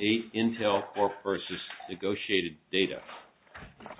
8 INTEL CORP v. NEGOTIATED DATA NEGOTIATED DARE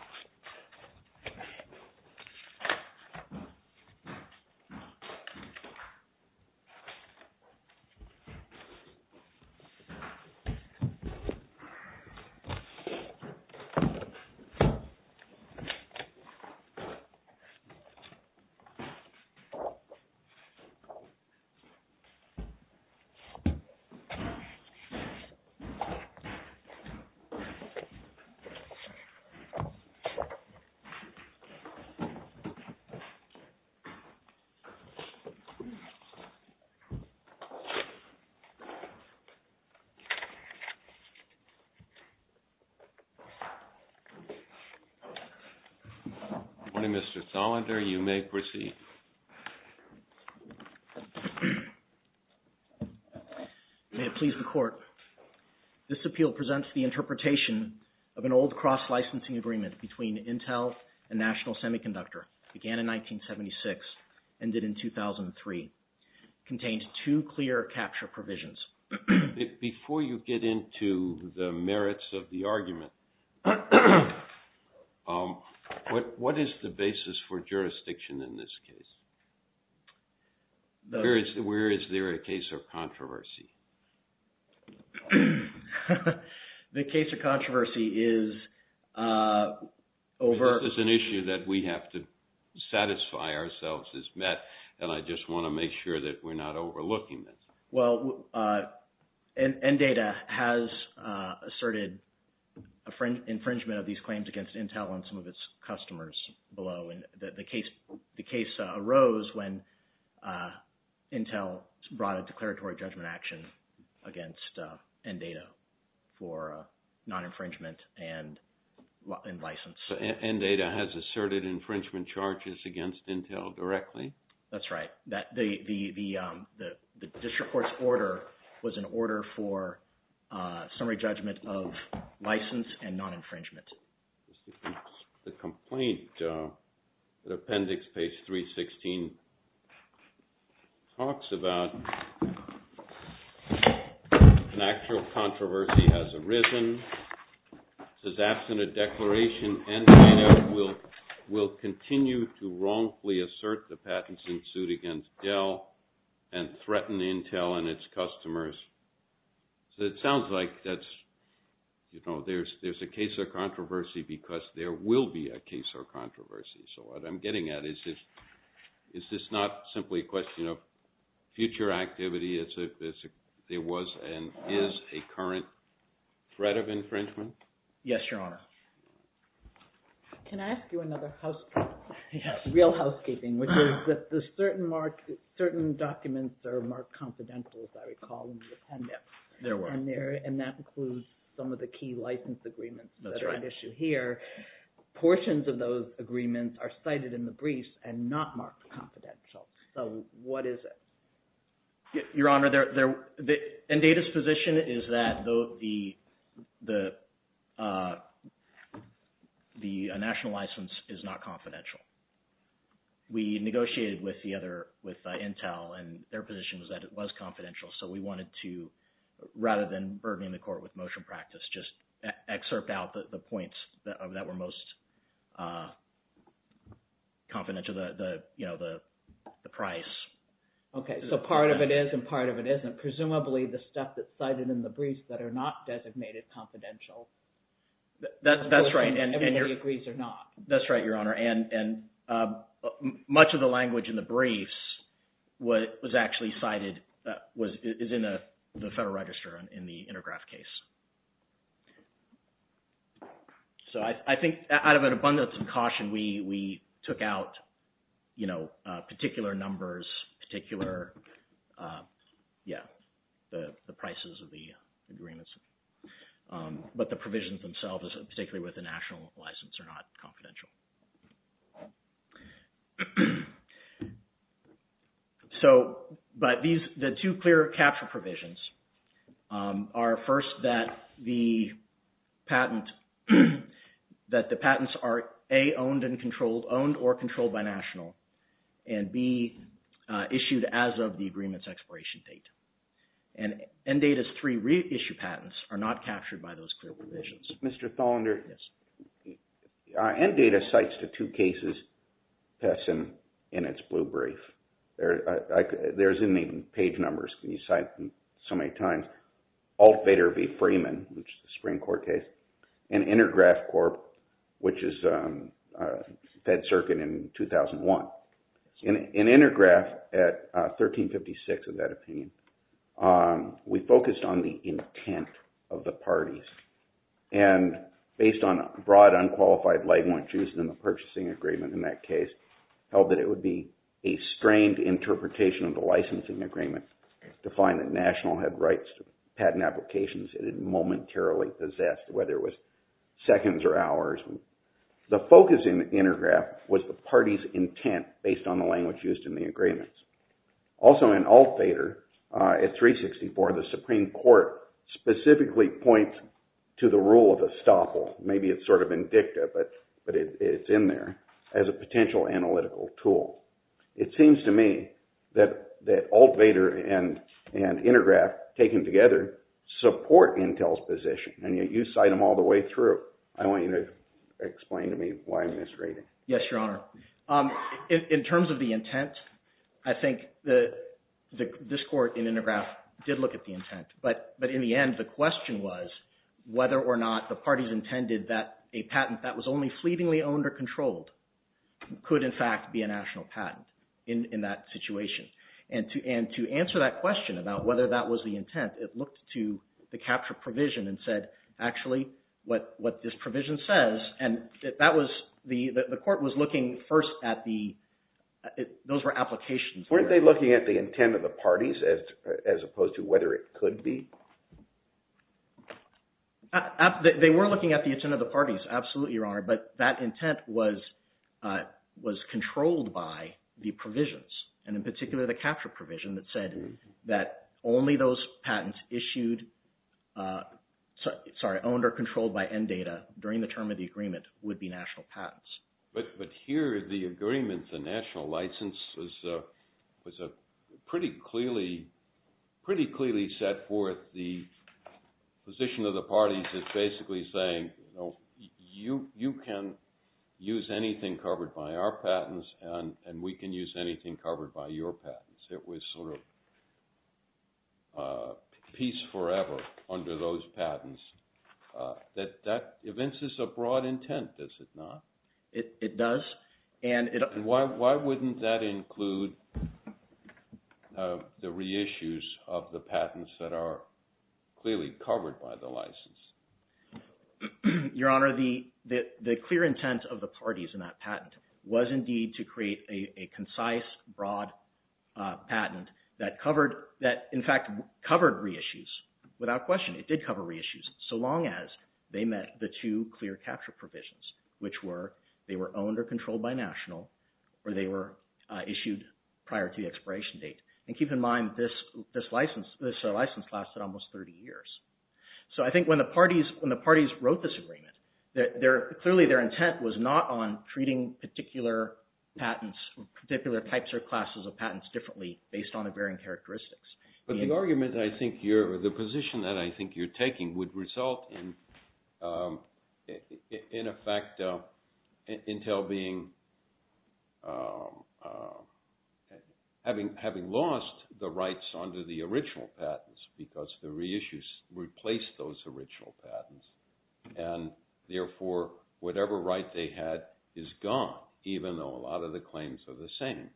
This appeal presents the interpretation of an old cross-licensing agreement between Intel and National Semiconductor, began in 1976, ended in 2003. It contained two clear capture provisions. Before you get into the merits of the argument, what is the basis for jurisdiction in this case? Where is there a case of controversy? The case of controversy is over... This is an issue that we have to satisfy ourselves as MET, and I just want to make sure that we're not overlooking this. Well, NData has asserted infringement of these claims against Intel and some of its customers below, and the case arose when Intel brought a declaratory judgment action against NData. For non-infringement and license. NData has asserted infringement charges against Intel directly? That's right. The district court's order was an order for summary judgment of license and non-infringement. The complaint, the appendix, page 316, talks about an actual controversy has arisen. It says, absent a declaration, NData will continue to wrongfully assert the patents in suit against Dell and threaten Intel and its customers. So it sounds like that's, you know, there's a case of controversy because there will be a case of controversy. So what I'm getting at is, is this not simply a question of future activity? There was and is a current threat of infringement? Yes, Your Honor. Can I ask you another house... Real housekeeping, which is that there's certain documents that are marked confidential, as I recall, in the appendix. There were. And that includes some of the key license agreements that are at issue here. Portions of those agreements are cited in the briefs and not marked confidential. So what is it? Your Honor, NData's position is that the national license is not confidential. We negotiated with the other, with Intel, and their position was that it was confidential. So we wanted to, rather than burdening the court with motion practice, just excerpt out the points that were most confidential, you know, the price. Okay. So part of it is and part of it isn't. Presumably the stuff that's cited in the briefs that are not designated confidential. That's right. And everybody agrees they're not. That's right, Your Honor. And much of the language in the briefs was actually cited, is in the Federal Register in the Intergraph case. So I think out of an abundance of caution, we took out, you know, particular numbers, particular, yeah, the prices of the agreements. But the provisions themselves, particularly with the national license, are not confidential. So, but these, the two clear capture provisions are first that the patent, that the patents are A, owned and controlled, owned or controlled by national, and B, issued as of the agreement's expiration date. And NData's three reissue patents are not captured by those clear provisions. Mr. Tholender, NData cites the two cases that's in its blue brief. There's in the page numbers that you cite so many times, Alt Bader v. Freeman, which is the Supreme Court case, and Intergraph Corp., which is Fed Circuit in 2001. In Intergraph at 1356, in that opinion, we focused on the intent of the parties. And based on broad, unqualified language used in the purchasing agreement in that case, held that it would be a strained interpretation of the licensing agreement to find that national had rights to patent applications that it momentarily possessed, whether it was seconds or hours. The focus in Intergraph was the party's intent based on the language used in the agreements. Also in Alt Bader, at 364, the Supreme Court specifically points to the rule of estoppel, maybe it's sort of indicative, but it's in there, as a potential analytical tool. It seems to me that Alt Bader and Intergraph, taken together, support Intel's position, and yet you cite them all the way through. I want you to explain to me why I'm misreading. Yes, Your Honor. In terms of the intent, I think this Court in Intergraph did look at the intent. But in the end, the question was whether or not the parties intended that a patent that was only fleetingly owned or controlled could, in fact, be a national patent in that situation. And to answer that question about whether that was the intent, it looked to the capture provision and said, actually, what this provision says, and the Court was looking first at the – those were applications. Weren't they looking at the intent of the parties as opposed to whether it could be? They were looking at the intent of the parties, absolutely, Your Honor, but that intent was controlled by the provisions, and in particular, the capture provision that said that only those patents issued, sorry, owned or controlled by NDATA during the term of the agreement would be national patents. But here, the agreement, the national license, was a pretty clearly – pretty clearly set forth the position of the parties as basically saying, you know, you can use anything covered by our patents, and we can use anything covered by your patents. It was sort of peace forever under those patents. That evinces a broad intent, does it not? It does, and it – Why wouldn't that include the reissues of the patents that are clearly covered by the license? Your Honor, the clear intent of the parties in that patent was indeed to create a concise, broad patent that covered – that, in fact, covered reissues without question. It did cover reissues so long as they met the two clear capture provisions, which were they were owned or controlled by national, or they were issued prior to the expiration date. And keep in mind, this license lasted almost 30 years. So I think when the parties wrote this agreement, clearly their intent was not on treating particular patents, particular types or classes of patents differently based on the varying characteristics. But the argument I think you're – the position that I think you're taking would result in, in effect, Intel being – having lost the rights under the original patents because the reissues replaced those original patents. And therefore, whatever right they had is gone, even though a lot of the claims are the same.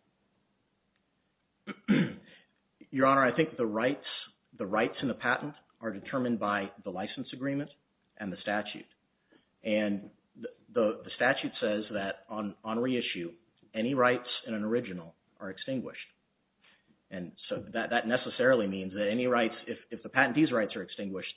Your Honor, I think the rights – the rights in the patent are determined by the license agreement and the statute. And the statute says that on reissue, any rights in an original are extinguished. And so that necessarily means that any rights – if the patentee's rights are extinguished,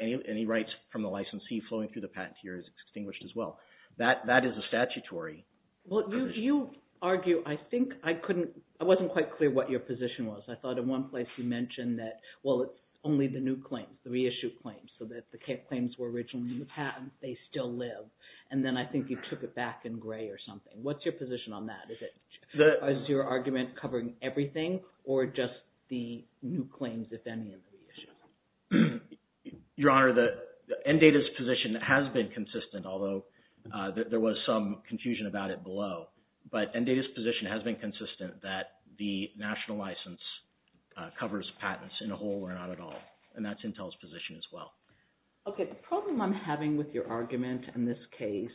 any rights from the licensee flowing through the patentee is extinguished as well. That is a statutory – Well, you argue – I think I couldn't – I wasn't quite clear what your position was. I thought in one place you mentioned that, well, it's only the new claims, the reissued claims, so that the claims were originally the patents, they still live. And then I think you took it back in gray or something. What's your position on that? Is it – is your argument covering everything or just the new claims, if any, in the reissue? Your Honor, the – NDATA's position has been consistent, although there was some confusion about it below. But NDATA's position has been consistent that the national license covers patents in a whole or not at all. And that's Intel's position as well. Okay. The problem I'm having with your argument in this case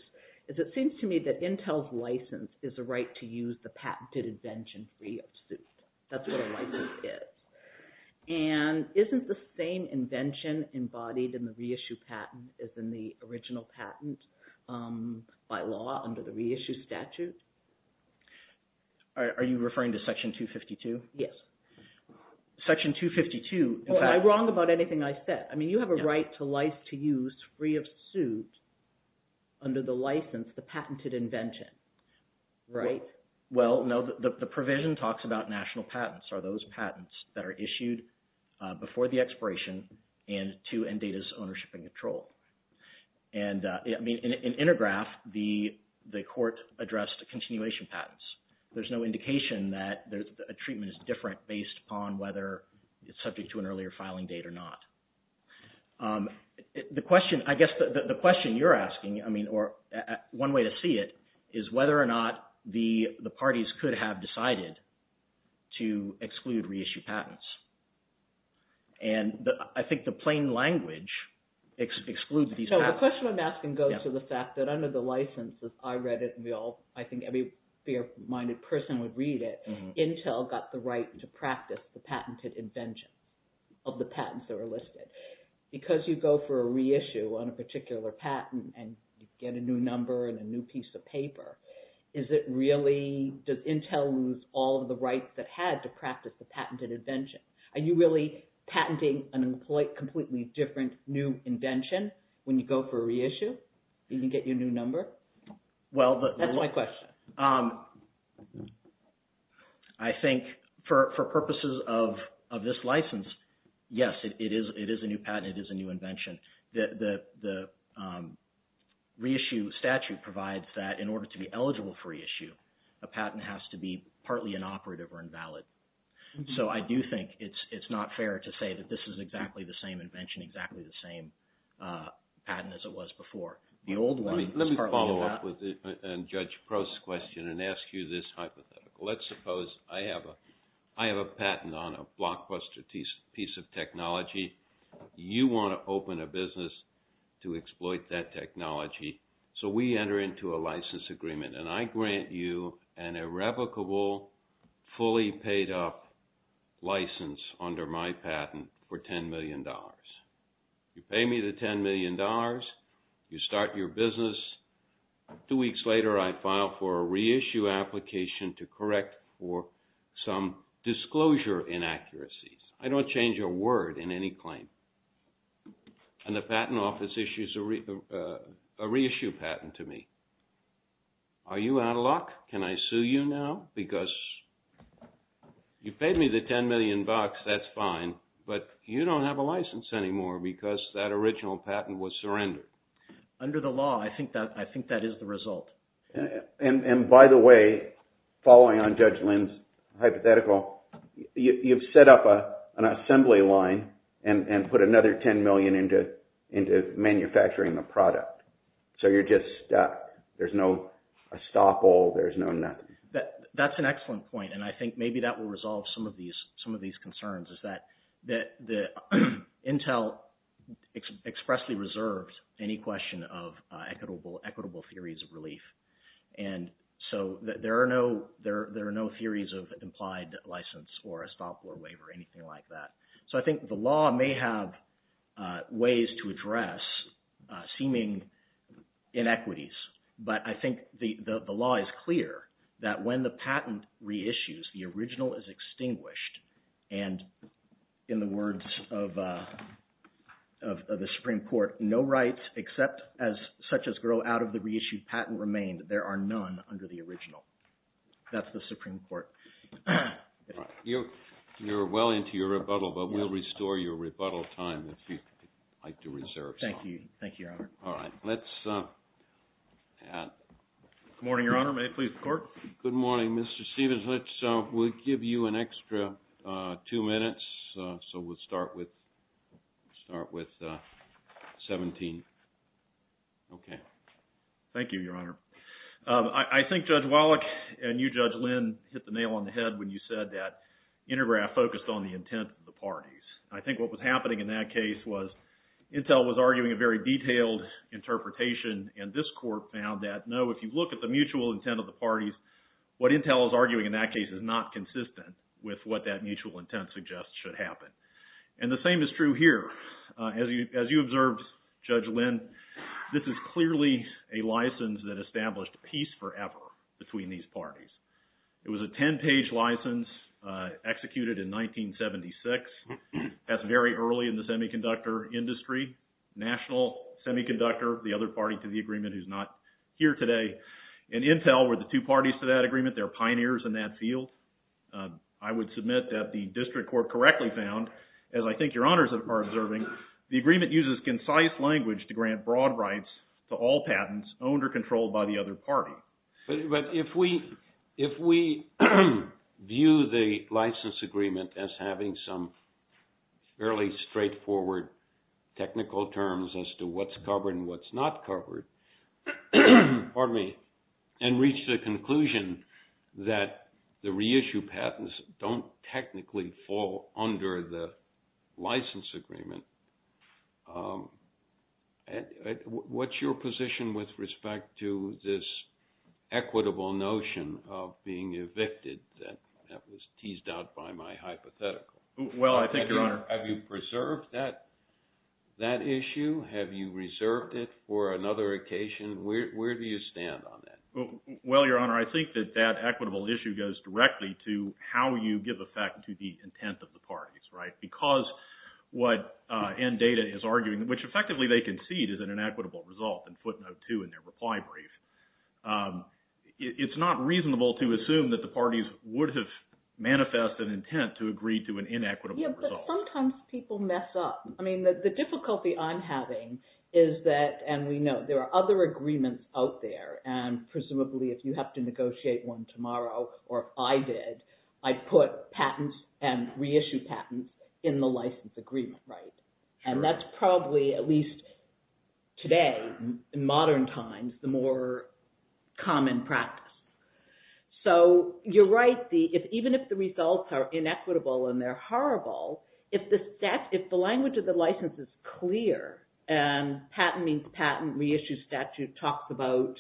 is it seems to me that Intel's license is a right to use the patented invention free of suit. That's what a license is. And isn't the same invention embodied in the reissue patent as in the original patent by law under the reissue statute? Are you referring to Section 252? Yes. Section 252 – Well, am I wrong about anything I said? I mean, you have a right to license to use free of suit under the license, the patented invention, right? Well, no, the provision talks about national patents are those patents that are issued before the expiration and to NDATA's ownership and control. And in Intergraph, the court addressed continuation patents. There's no indication that a treatment is different based upon whether it's subject to an earlier filing date or not. The question – I guess the question you're asking, I mean, or one way to see it is whether or not the parties could have decided to exclude reissue patents. And I think the plain language excludes these patents. So the question I'm asking goes to the fact that under the licenses, I read it and I think every fair-minded person would read it. Intel got the right to practice the patented invention of the patents that were listed. Because you go for a reissue on a particular patent and you get a new number and a new piece of paper, is it really – does Intel lose all of the rights that had to practice the patented invention? Are you really patenting a completely different new invention when you go for a reissue? You can get your new number? Well, the – That's my question. I think for purposes of this license, yes, it is a new patent. It is a new invention. The reissue statute provides that in order to be eligible for reissue, a patent has to be partly inoperative or invalid. So I do think it's not fair to say that this is exactly the same invention, exactly the same patent as it was before. The old one was partly invalid. Let me follow up with Judge Prost's question and ask you this hypothetical. Let's suppose I have a patent on a Blockbuster piece of technology. You want to open a business to exploit that technology. So we enter into a license agreement, and I grant you an irrevocable, fully paid-up license under my patent for $10 million. You pay me the $10 million, you start your business. Two weeks later, I file for a reissue application to correct for some disclosure inaccuracies. I don't change a word in any claim, and the patent office issues a reissue patent to me. Are you out of luck? Can I sue you now? Because you paid me the $10 million, that's fine, but you don't have a license anymore because that original patent was surrendered. Under the law, I think that is the result. And by the way, following on Judge Lin's hypothetical, you've set up an assembly line and put another $10 million into manufacturing the product. So you're just stuck. There's no estoppel. There's no nothing. That's an excellent point, and I think maybe that will resolve some of these concerns, is that Intel expressly reserves any question of equitable theories of relief. And so there are no theories of implied license or estoppel or waiver or anything like that. So I think the law may have ways to address seeming inequities, but I think the law is clear that when the patent reissues, the original is extinguished. And in the words of the Supreme Court, no rights, such as grow out of the reissued patent, remain. There are none under the original. That's the Supreme Court. You're well into your rebuttal, but we'll restore your rebuttal time if you'd like to reserve some. Thank you. Thank you, Your Honor. All right. Let's add. Good morning, Your Honor. May it please the Court? Good morning, Mr. Stevens. Let's give you an extra two minutes. So we'll start with 17. OK. Thank you, Your Honor. I think Judge Wallach and you, Judge Lynn, hit the nail on the head when you said that Intergraph focused on the intent of the parties. I think what was happening in that case was Intel was arguing a very detailed interpretation, and this court found that, no, if you look at the mutual intent of the parties, what Intel is arguing in that case is not consistent with what that mutual intent suggests should happen. And the same is true here. As you observed, Judge Lynn, this is clearly a license that established peace forever between these parties. It was a 10-page license executed in 1976. That's very early in the semiconductor industry. National semiconductor, the other party to the agreement who's not here today. And Intel were the two parties to that agreement. They're pioneers in that field. I would submit that the district court correctly found, as I think Your Honors are observing, the agreement uses concise language to grant broad rights to all patents owned or controlled by the other party. But if we view the license agreement as having some fairly straightforward technical terms as to what's covered and what's not covered, pardon me, and reach the conclusion that the reissue patents don't technically fall under the license agreement, what's your position with respect to this equitable notion of being evicted that was teased out by my hypothetical? Well, I think, Your Honor. Have you preserved that issue? Have you reserved it for another occasion? Where do you stand on that? Well, Your Honor, I think that that equitable issue goes directly to how you give effect to the intent of the parties, right? Because what NDATA is arguing, which effectively they concede is an inequitable result in footnote two in their reply brief, it's not reasonable to assume that the parties would have manifest an intent to agree to an inequitable result. Yeah, but sometimes people mess up. I mean, the difficulty I'm having is that, and we know there are other agreements out there, and presumably if you have to negotiate one tomorrow, or I did, I'd put patents and reissue patents in the license agreement, right? And that's probably at least today, in modern times, the more common practice. So you're right, even if the results are inequitable and they're horrible, if the language of the license is clear and patent means patent, reissue statute talks about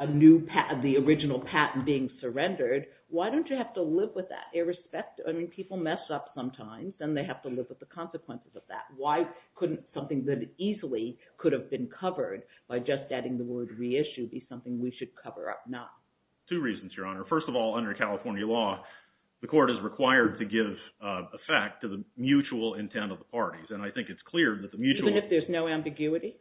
the original patent being surrendered, why don't you have to live with that irrespective? I mean, people mess up sometimes and they have to live with the consequences of that. Why couldn't something that easily could have been covered by just adding the word reissue be something we should cover up now? Two reasons, Your Honor. First of all, under California law, the court is required to give effect to the mutual intent of the parties. Even if there's no ambiguity?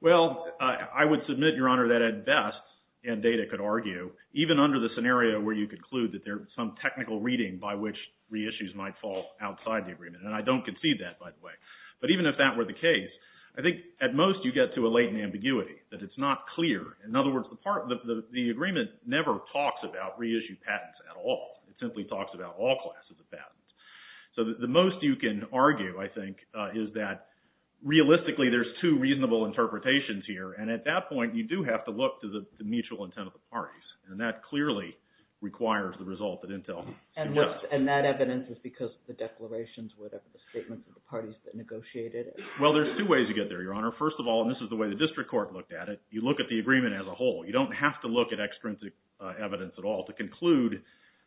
Well, I would submit, Your Honor, that at best, and Data could argue, even under the scenario where you conclude that there's some technical reading by which reissues might fall outside the agreement, and I don't concede that, by the way. But even if that were the case, I think at most you get to a latent ambiguity, that it's not clear. In other words, the agreement never talks about reissue patents at all. It simply talks about all classes of patents. So the most you can argue, I think, is that realistically, there's two reasonable interpretations here. And at that point, you do have to look to the mutual intent of the parties. And that clearly requires the result that Intel suggests. And that evidence is because of the declarations, whatever the statements of the parties that negotiated it? Well, there's two ways you get there, Your Honor. First of all, and this is the way the district court looked at it, you look at the agreement as a whole. You don't have to look at extrinsic evidence at all to conclude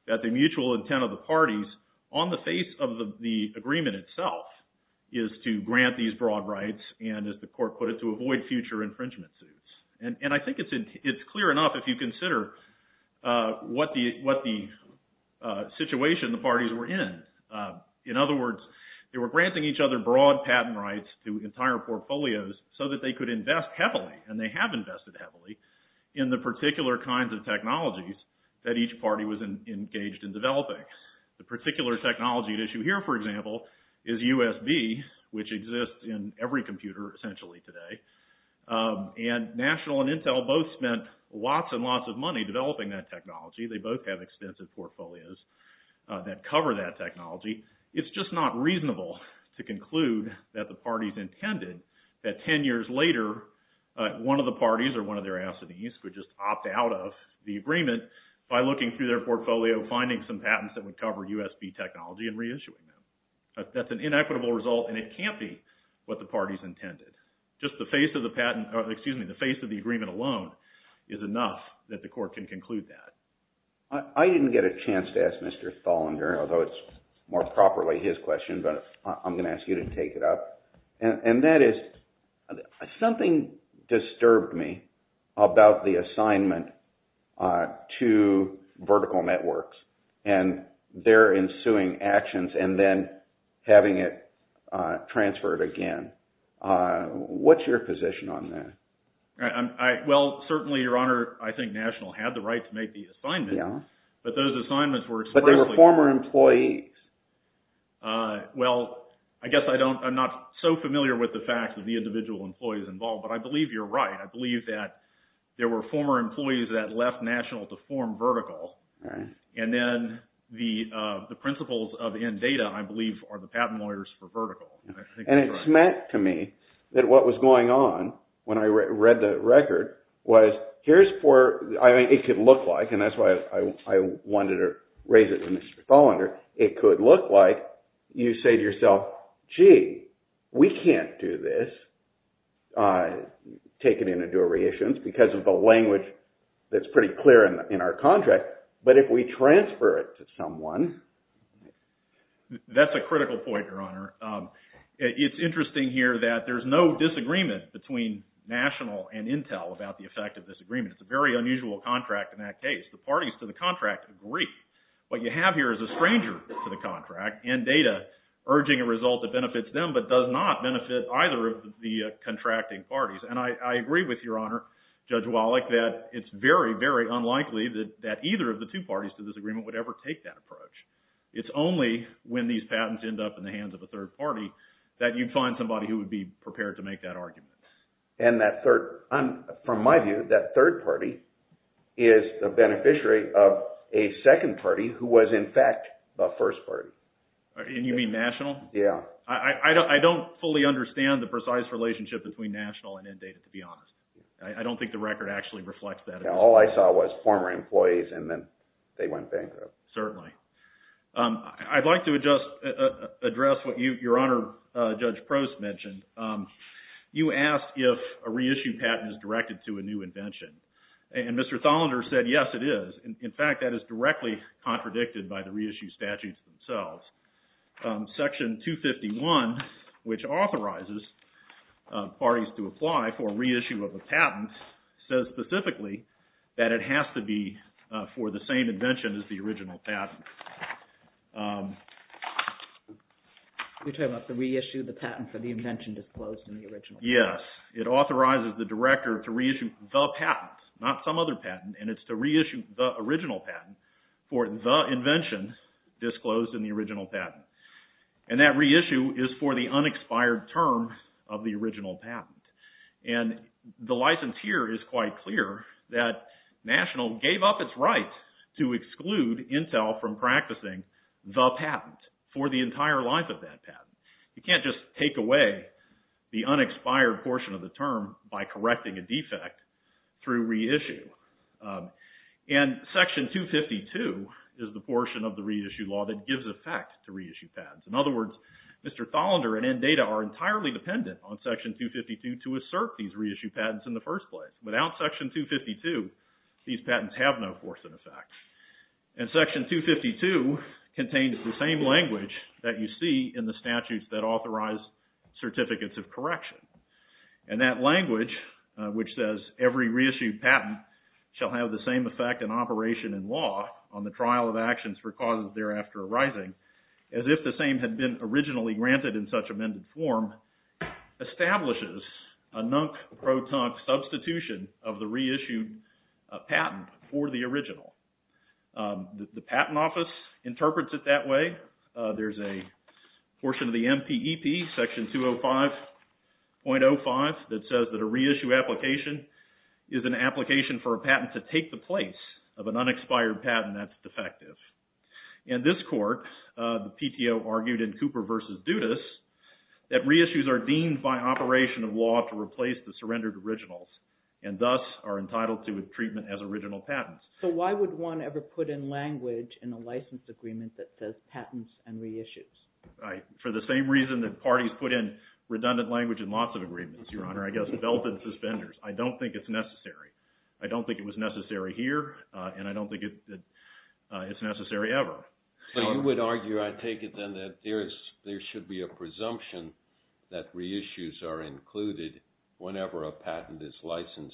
that the mutual intent of the parties on the face of the agreement itself is to grant these broad rights, and as the court put it, to avoid future infringement suits. And I think it's clear enough if you consider what the situation the parties were in. In other words, they were granting each other broad patent rights to entire portfolios so that they could invest heavily, and they have invested heavily, in the particular kinds of technologies that each party was engaged in developing. The particular technology at issue here, for example, is USB, which exists in every computer essentially today. And National and Intel both spent lots and lots of money developing that technology. They both have extensive portfolios that cover that technology. It's just not reasonable to conclude that the parties intended that 10 years later, one of the parties or one of their affidavits would just opt out of the agreement by looking through their portfolio, finding some patents that would cover USB technology, and reissuing them. That's an inequitable result, and it can't be what the parties intended. Just the face of the agreement alone is enough that the court can conclude that. I didn't get a chance to ask Mr. Tholender, although it's more properly his question, but I'm going to ask you to take it up. And that is, something disturbed me about the assignment to vertical networks and their ensuing actions and then having it transferred again. What's your position on that? Well, certainly, Your Honor, I think National had the right to make the assignment. Yeah. But those assignments were... But they were former employees. Well, I guess I'm not so familiar with the facts of the individual employees involved, but I believe you're right. I believe that there were former employees that left National to form Vertical. Right. And then the principles of INDATA, I believe, are the patent lawyers for Vertical. And it's meant to me that what was going on when I read the record was, here's for... I mean, it could look like, and that's why I wanted to raise it to Mr. Tholender, it could look like you say to yourself, gee, we can't do this, take it in and do a reissuance because of the language that's pretty clear in our contract. But if we transfer it to someone... That's a critical point, Your Honor. It's interesting here that there's no disagreement between National and Intel about the effect of this agreement. It's a very unusual contract in that case. The parties to the contract agree. What you have here is a stranger to the contract, INDATA, urging a result that benefits them, but does not benefit either of the contracting parties. And I agree with Your Honor, Judge Wallach, that it's very, very unlikely that either of the two parties to this agreement would ever take that approach. It's only when these patents end up in the hands of a third party that you'd find somebody who would be prepared to make that argument. From my view, that third party is a beneficiary of a second party who was in fact the first party. And you mean National? Yeah. I don't fully understand the precise relationship between National and INDATA, to be honest. I don't think the record actually reflects that. All I saw was former employees and then they went bankrupt. Certainly. I'd like to address what Your Honor, Judge Prost, mentioned. You asked if a reissued patent is directed to a new invention. And Mr. Thollender said, yes, it is. In fact, that is directly contradicted by the reissued statutes themselves. Section 251, which authorizes parties to apply for reissue of a patent, says specifically that it has to be for the same invention as the original patent. You're talking about the reissued patent for the invention disclosed in the original patent? Yes. It authorizes the director to reissue the patent, not some other patent, and it's to reissue the original patent for the invention disclosed in the original patent. And that reissue is for the unexpired term of the original patent. And the license here is quite clear that National gave up its right to exclude Intel from practicing the patent for the entire life of that patent. You can't just take away the unexpired portion of the term by correcting a defect through reissue. And Section 252 is the portion of the reissue law that gives effect to reissue patents. In other words, Mr. Tholender and NDATA are entirely dependent on Section 252 to assert these reissue patents in the first place. Without Section 252, these patents have no force and effect. And Section 252 contains the same language that you see in the statutes that authorize certificates of correction. And that language, which says every reissued patent shall have the same effect in operation in law on the trial of actions for causes thereafter arising, as if the same had been originally granted in such amended form, establishes a nunk-pro-tunk substitution of the reissued patent for the original. The Patent Office interprets it that way. There's a portion of the MPEP, Section 205.05 that says that a reissue application is an application for a patent to take the place of an unexpired patent that's defective. In this court, the PTO argued in Cooper v. Dudas that reissues are deemed by operation of law to replace the surrendered originals and thus are entitled to treatment as original patents. So why would one ever put in language in a license agreement that says patents and reissues? Right. For the same reason that parties put in redundant language in lots of agreements, Your Honor. I guess belted suspenders. I don't think it's necessary. I don't think it was necessary here, and I don't think it's necessary ever. So you would argue, I take it then, that there should be a presumption that reissues are included whenever a patent is licensed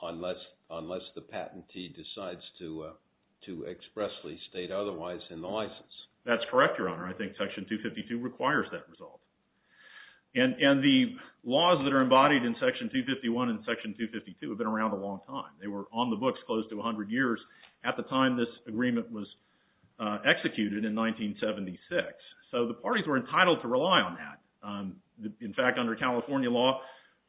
unless the patentee decides to expressly state otherwise in the license. That's correct, Your Honor. I think Section 252 requires that result. And the laws that are embodied in Section 251 and Section 252 have been around a long time. They were on the books close to 100 years at the time this agreement was executed in 1976. So the parties were entitled to rely on that. In fact, under California law,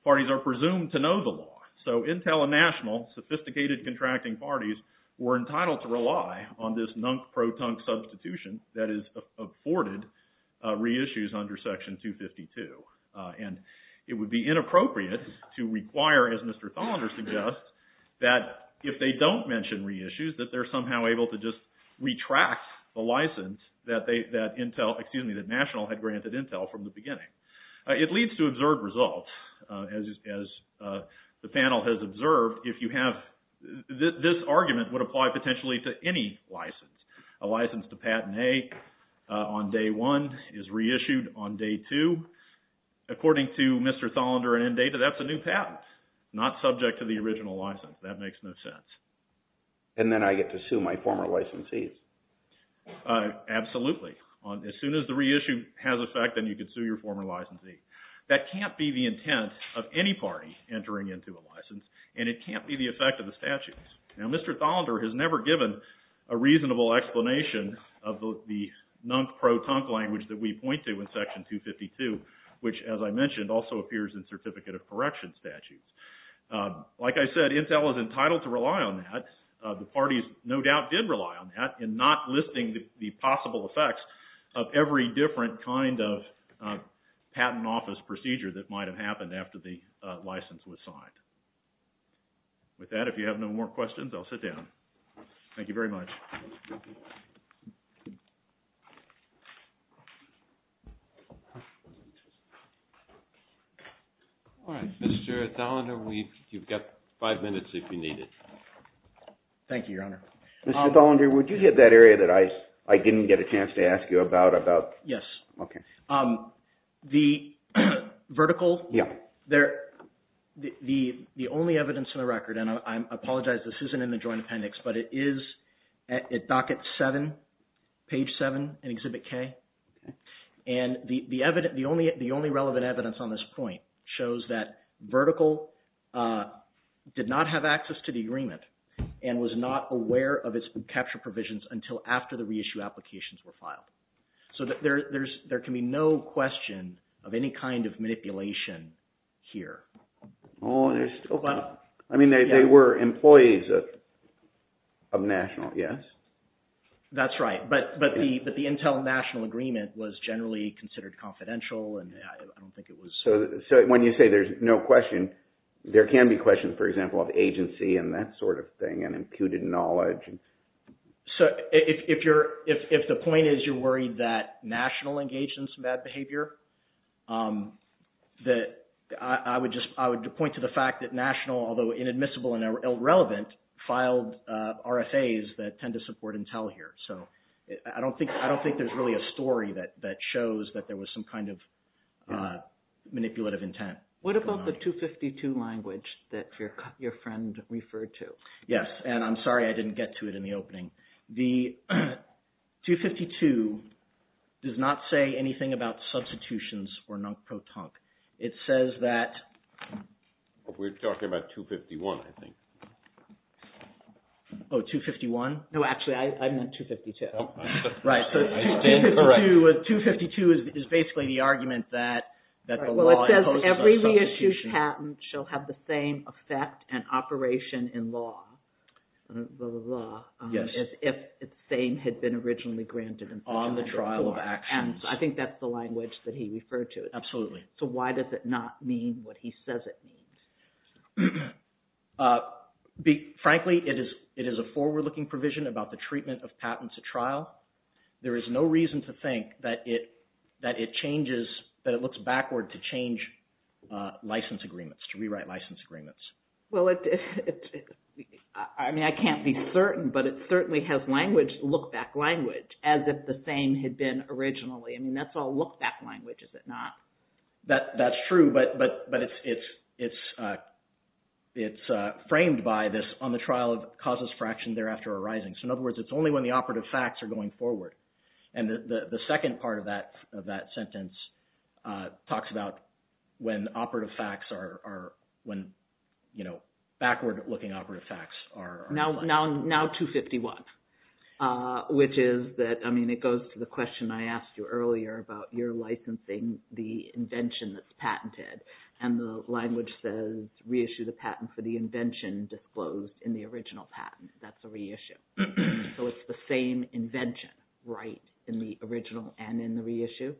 parties are presumed to know the law. So Intel and National, sophisticated contracting parties, were entitled to rely on this nunk-pro-tunk substitution that is afforded reissues under Section 252. And it would be inappropriate to require, as Mr. Thollender suggests, that if they don't mention reissues, that they're somehow able to just retract the license that National had granted Intel from the beginning. It leads to observed results. As the panel has observed, if you have this argument, it would apply potentially to any license. A license to patentee on day one, is reissued on day two. According to Mr. Thollender and Indata, that's a new patent, not subject to the original license. That makes no sense. And then I get to sue my former licensees. Absolutely. As soon as the reissue has effect, then you can sue your former licensee. That can't be the intent of any party entering into a license. And it can't be the effect of the statutes. Now, Mr. Thollender has never given a reasonable explanation of the pro-tunk language that we point to in Section 252, which as I mentioned, also appears in Certificate of Correction statutes. Like I said, Intel is entitled to rely on that. The parties no doubt did rely on that, in not listing the possible effects of every different kind of patent office procedure that might have happened after the license was signed. With that, if you have no more questions, I'll sit down. Thank you very much. All right. Mr. Thollender, you've got five minutes if you need it. Thank you, Your Honor. Mr. Thollender, would you hit that area that I didn't get a chance to ask you about? Yes. The vertical, the only evidence in the record, and I apologize, this isn't in the Joint Appendix, but it is at Docket 7, Page 7, in Exhibit K. And the only relevant evidence on this point shows that vertical did not have access to the agreement and was not aware of its capture provisions until after the reissue applications were filed. So there can be no question of any kind of manipulation here. Oh, I mean, they were employees of National, yes? That's right. But the Intel-National agreement was generally considered confidential, and I don't think it was... So when you say there's no question, there can be questions, for example, of agency and that sort of thing and imputed knowledge. So if the point is you're worried that National engaged in some bad behavior, I would point to the fact that National, although inadmissible and irrelevant, filed RFAs that tend to support Intel here. So I don't think there's really a story that shows that there was some kind of manipulative intent. What about the 252 language that your friend referred to? Yes, and I'm sorry I didn't get to it in the opening. The 252 does not say anything about substitutions or non-protonque. It says that... We're talking about 251, I think. Oh, 251? No, actually, I meant 252. Oh, right. 252 is basically the argument that the law... Well, it says every reissued patent shall have the same effect and operation in law. The law, as if it's same had been originally granted. On the trial of actions. I think that's the language that he referred to. Absolutely. So why does it not mean what he says it means? Frankly, it is a forward-looking provision about the treatment of patents at trial. There is no reason to think that it changes, that it looks backward to change license agreements, to rewrite license agreements. Well, I mean, I can't be certain, but it certainly has language, look-back language, as if the same had been originally. I mean, that's all look-back language, is it not? That's true, but it's framed by this on the trial of causes fraction thereafter arising. So in other words, it's only when the operative facts are going forward. And the second part of that sentence talks about when operative facts are, when backward-looking operative facts are. Now 251, which is that, I mean, it goes to the question I asked you earlier about your licensing the invention that's patented. And the language says, reissue the patent for the invention disclosed in the original patent. That's a reissue. So it's the same invention, right in the original and in the reissue?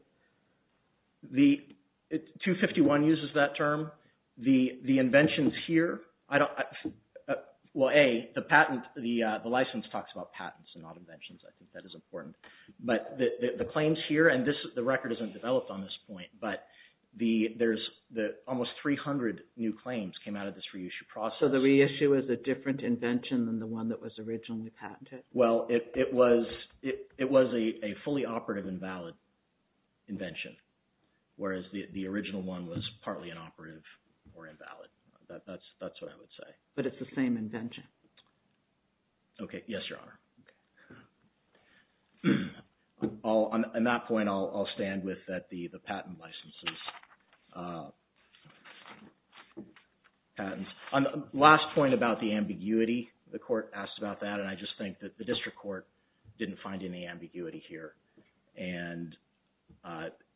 The, 251 uses that term. The inventions here, I don't, well, A, the patent, the license talks about patents and not inventions. I think that is important. But the claims here, and this, the record isn't developed on this point, but there's almost 300 new claims came out of this reissue process. So the reissue is a different invention than the one that was originally patented? Well, it was a fully operative invalid. Invention, whereas the original one was partly inoperative or invalid. That's what I would say. But it's the same invention? Okay, yes, Your Honor. On that point, I'll stand with that, the patent licenses, patents. On the last point about the ambiguity, the court asked about that. And I just think that the district court didn't find any ambiguity here. And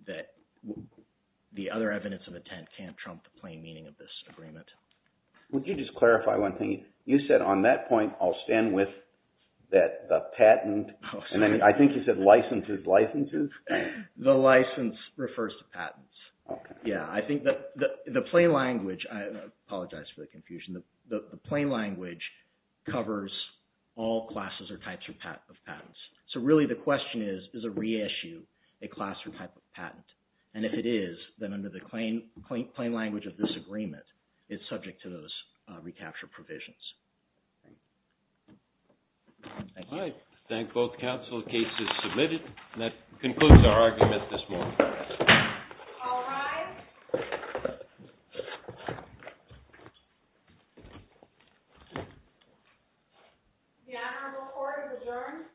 that the other evidence of intent can't trump the plain meaning of this agreement. Would you just clarify one thing? You said on that point, I'll stand with that, the patent, and then I think you said licenses, licenses? The license refers to patents. Okay. Yeah, I think that the plain language, I apologize for the confusion. The plain language covers all classes or types of patents. So really the question is, is a re-issue a class or type of patent? And if it is, then under the plain language of this agreement, it's subject to those recapture provisions. Thank you. All right. Thank both counsel. The case is submitted. That concludes our argument this morning. All rise. The Honorable Court is adjourned. Committee is adjourned.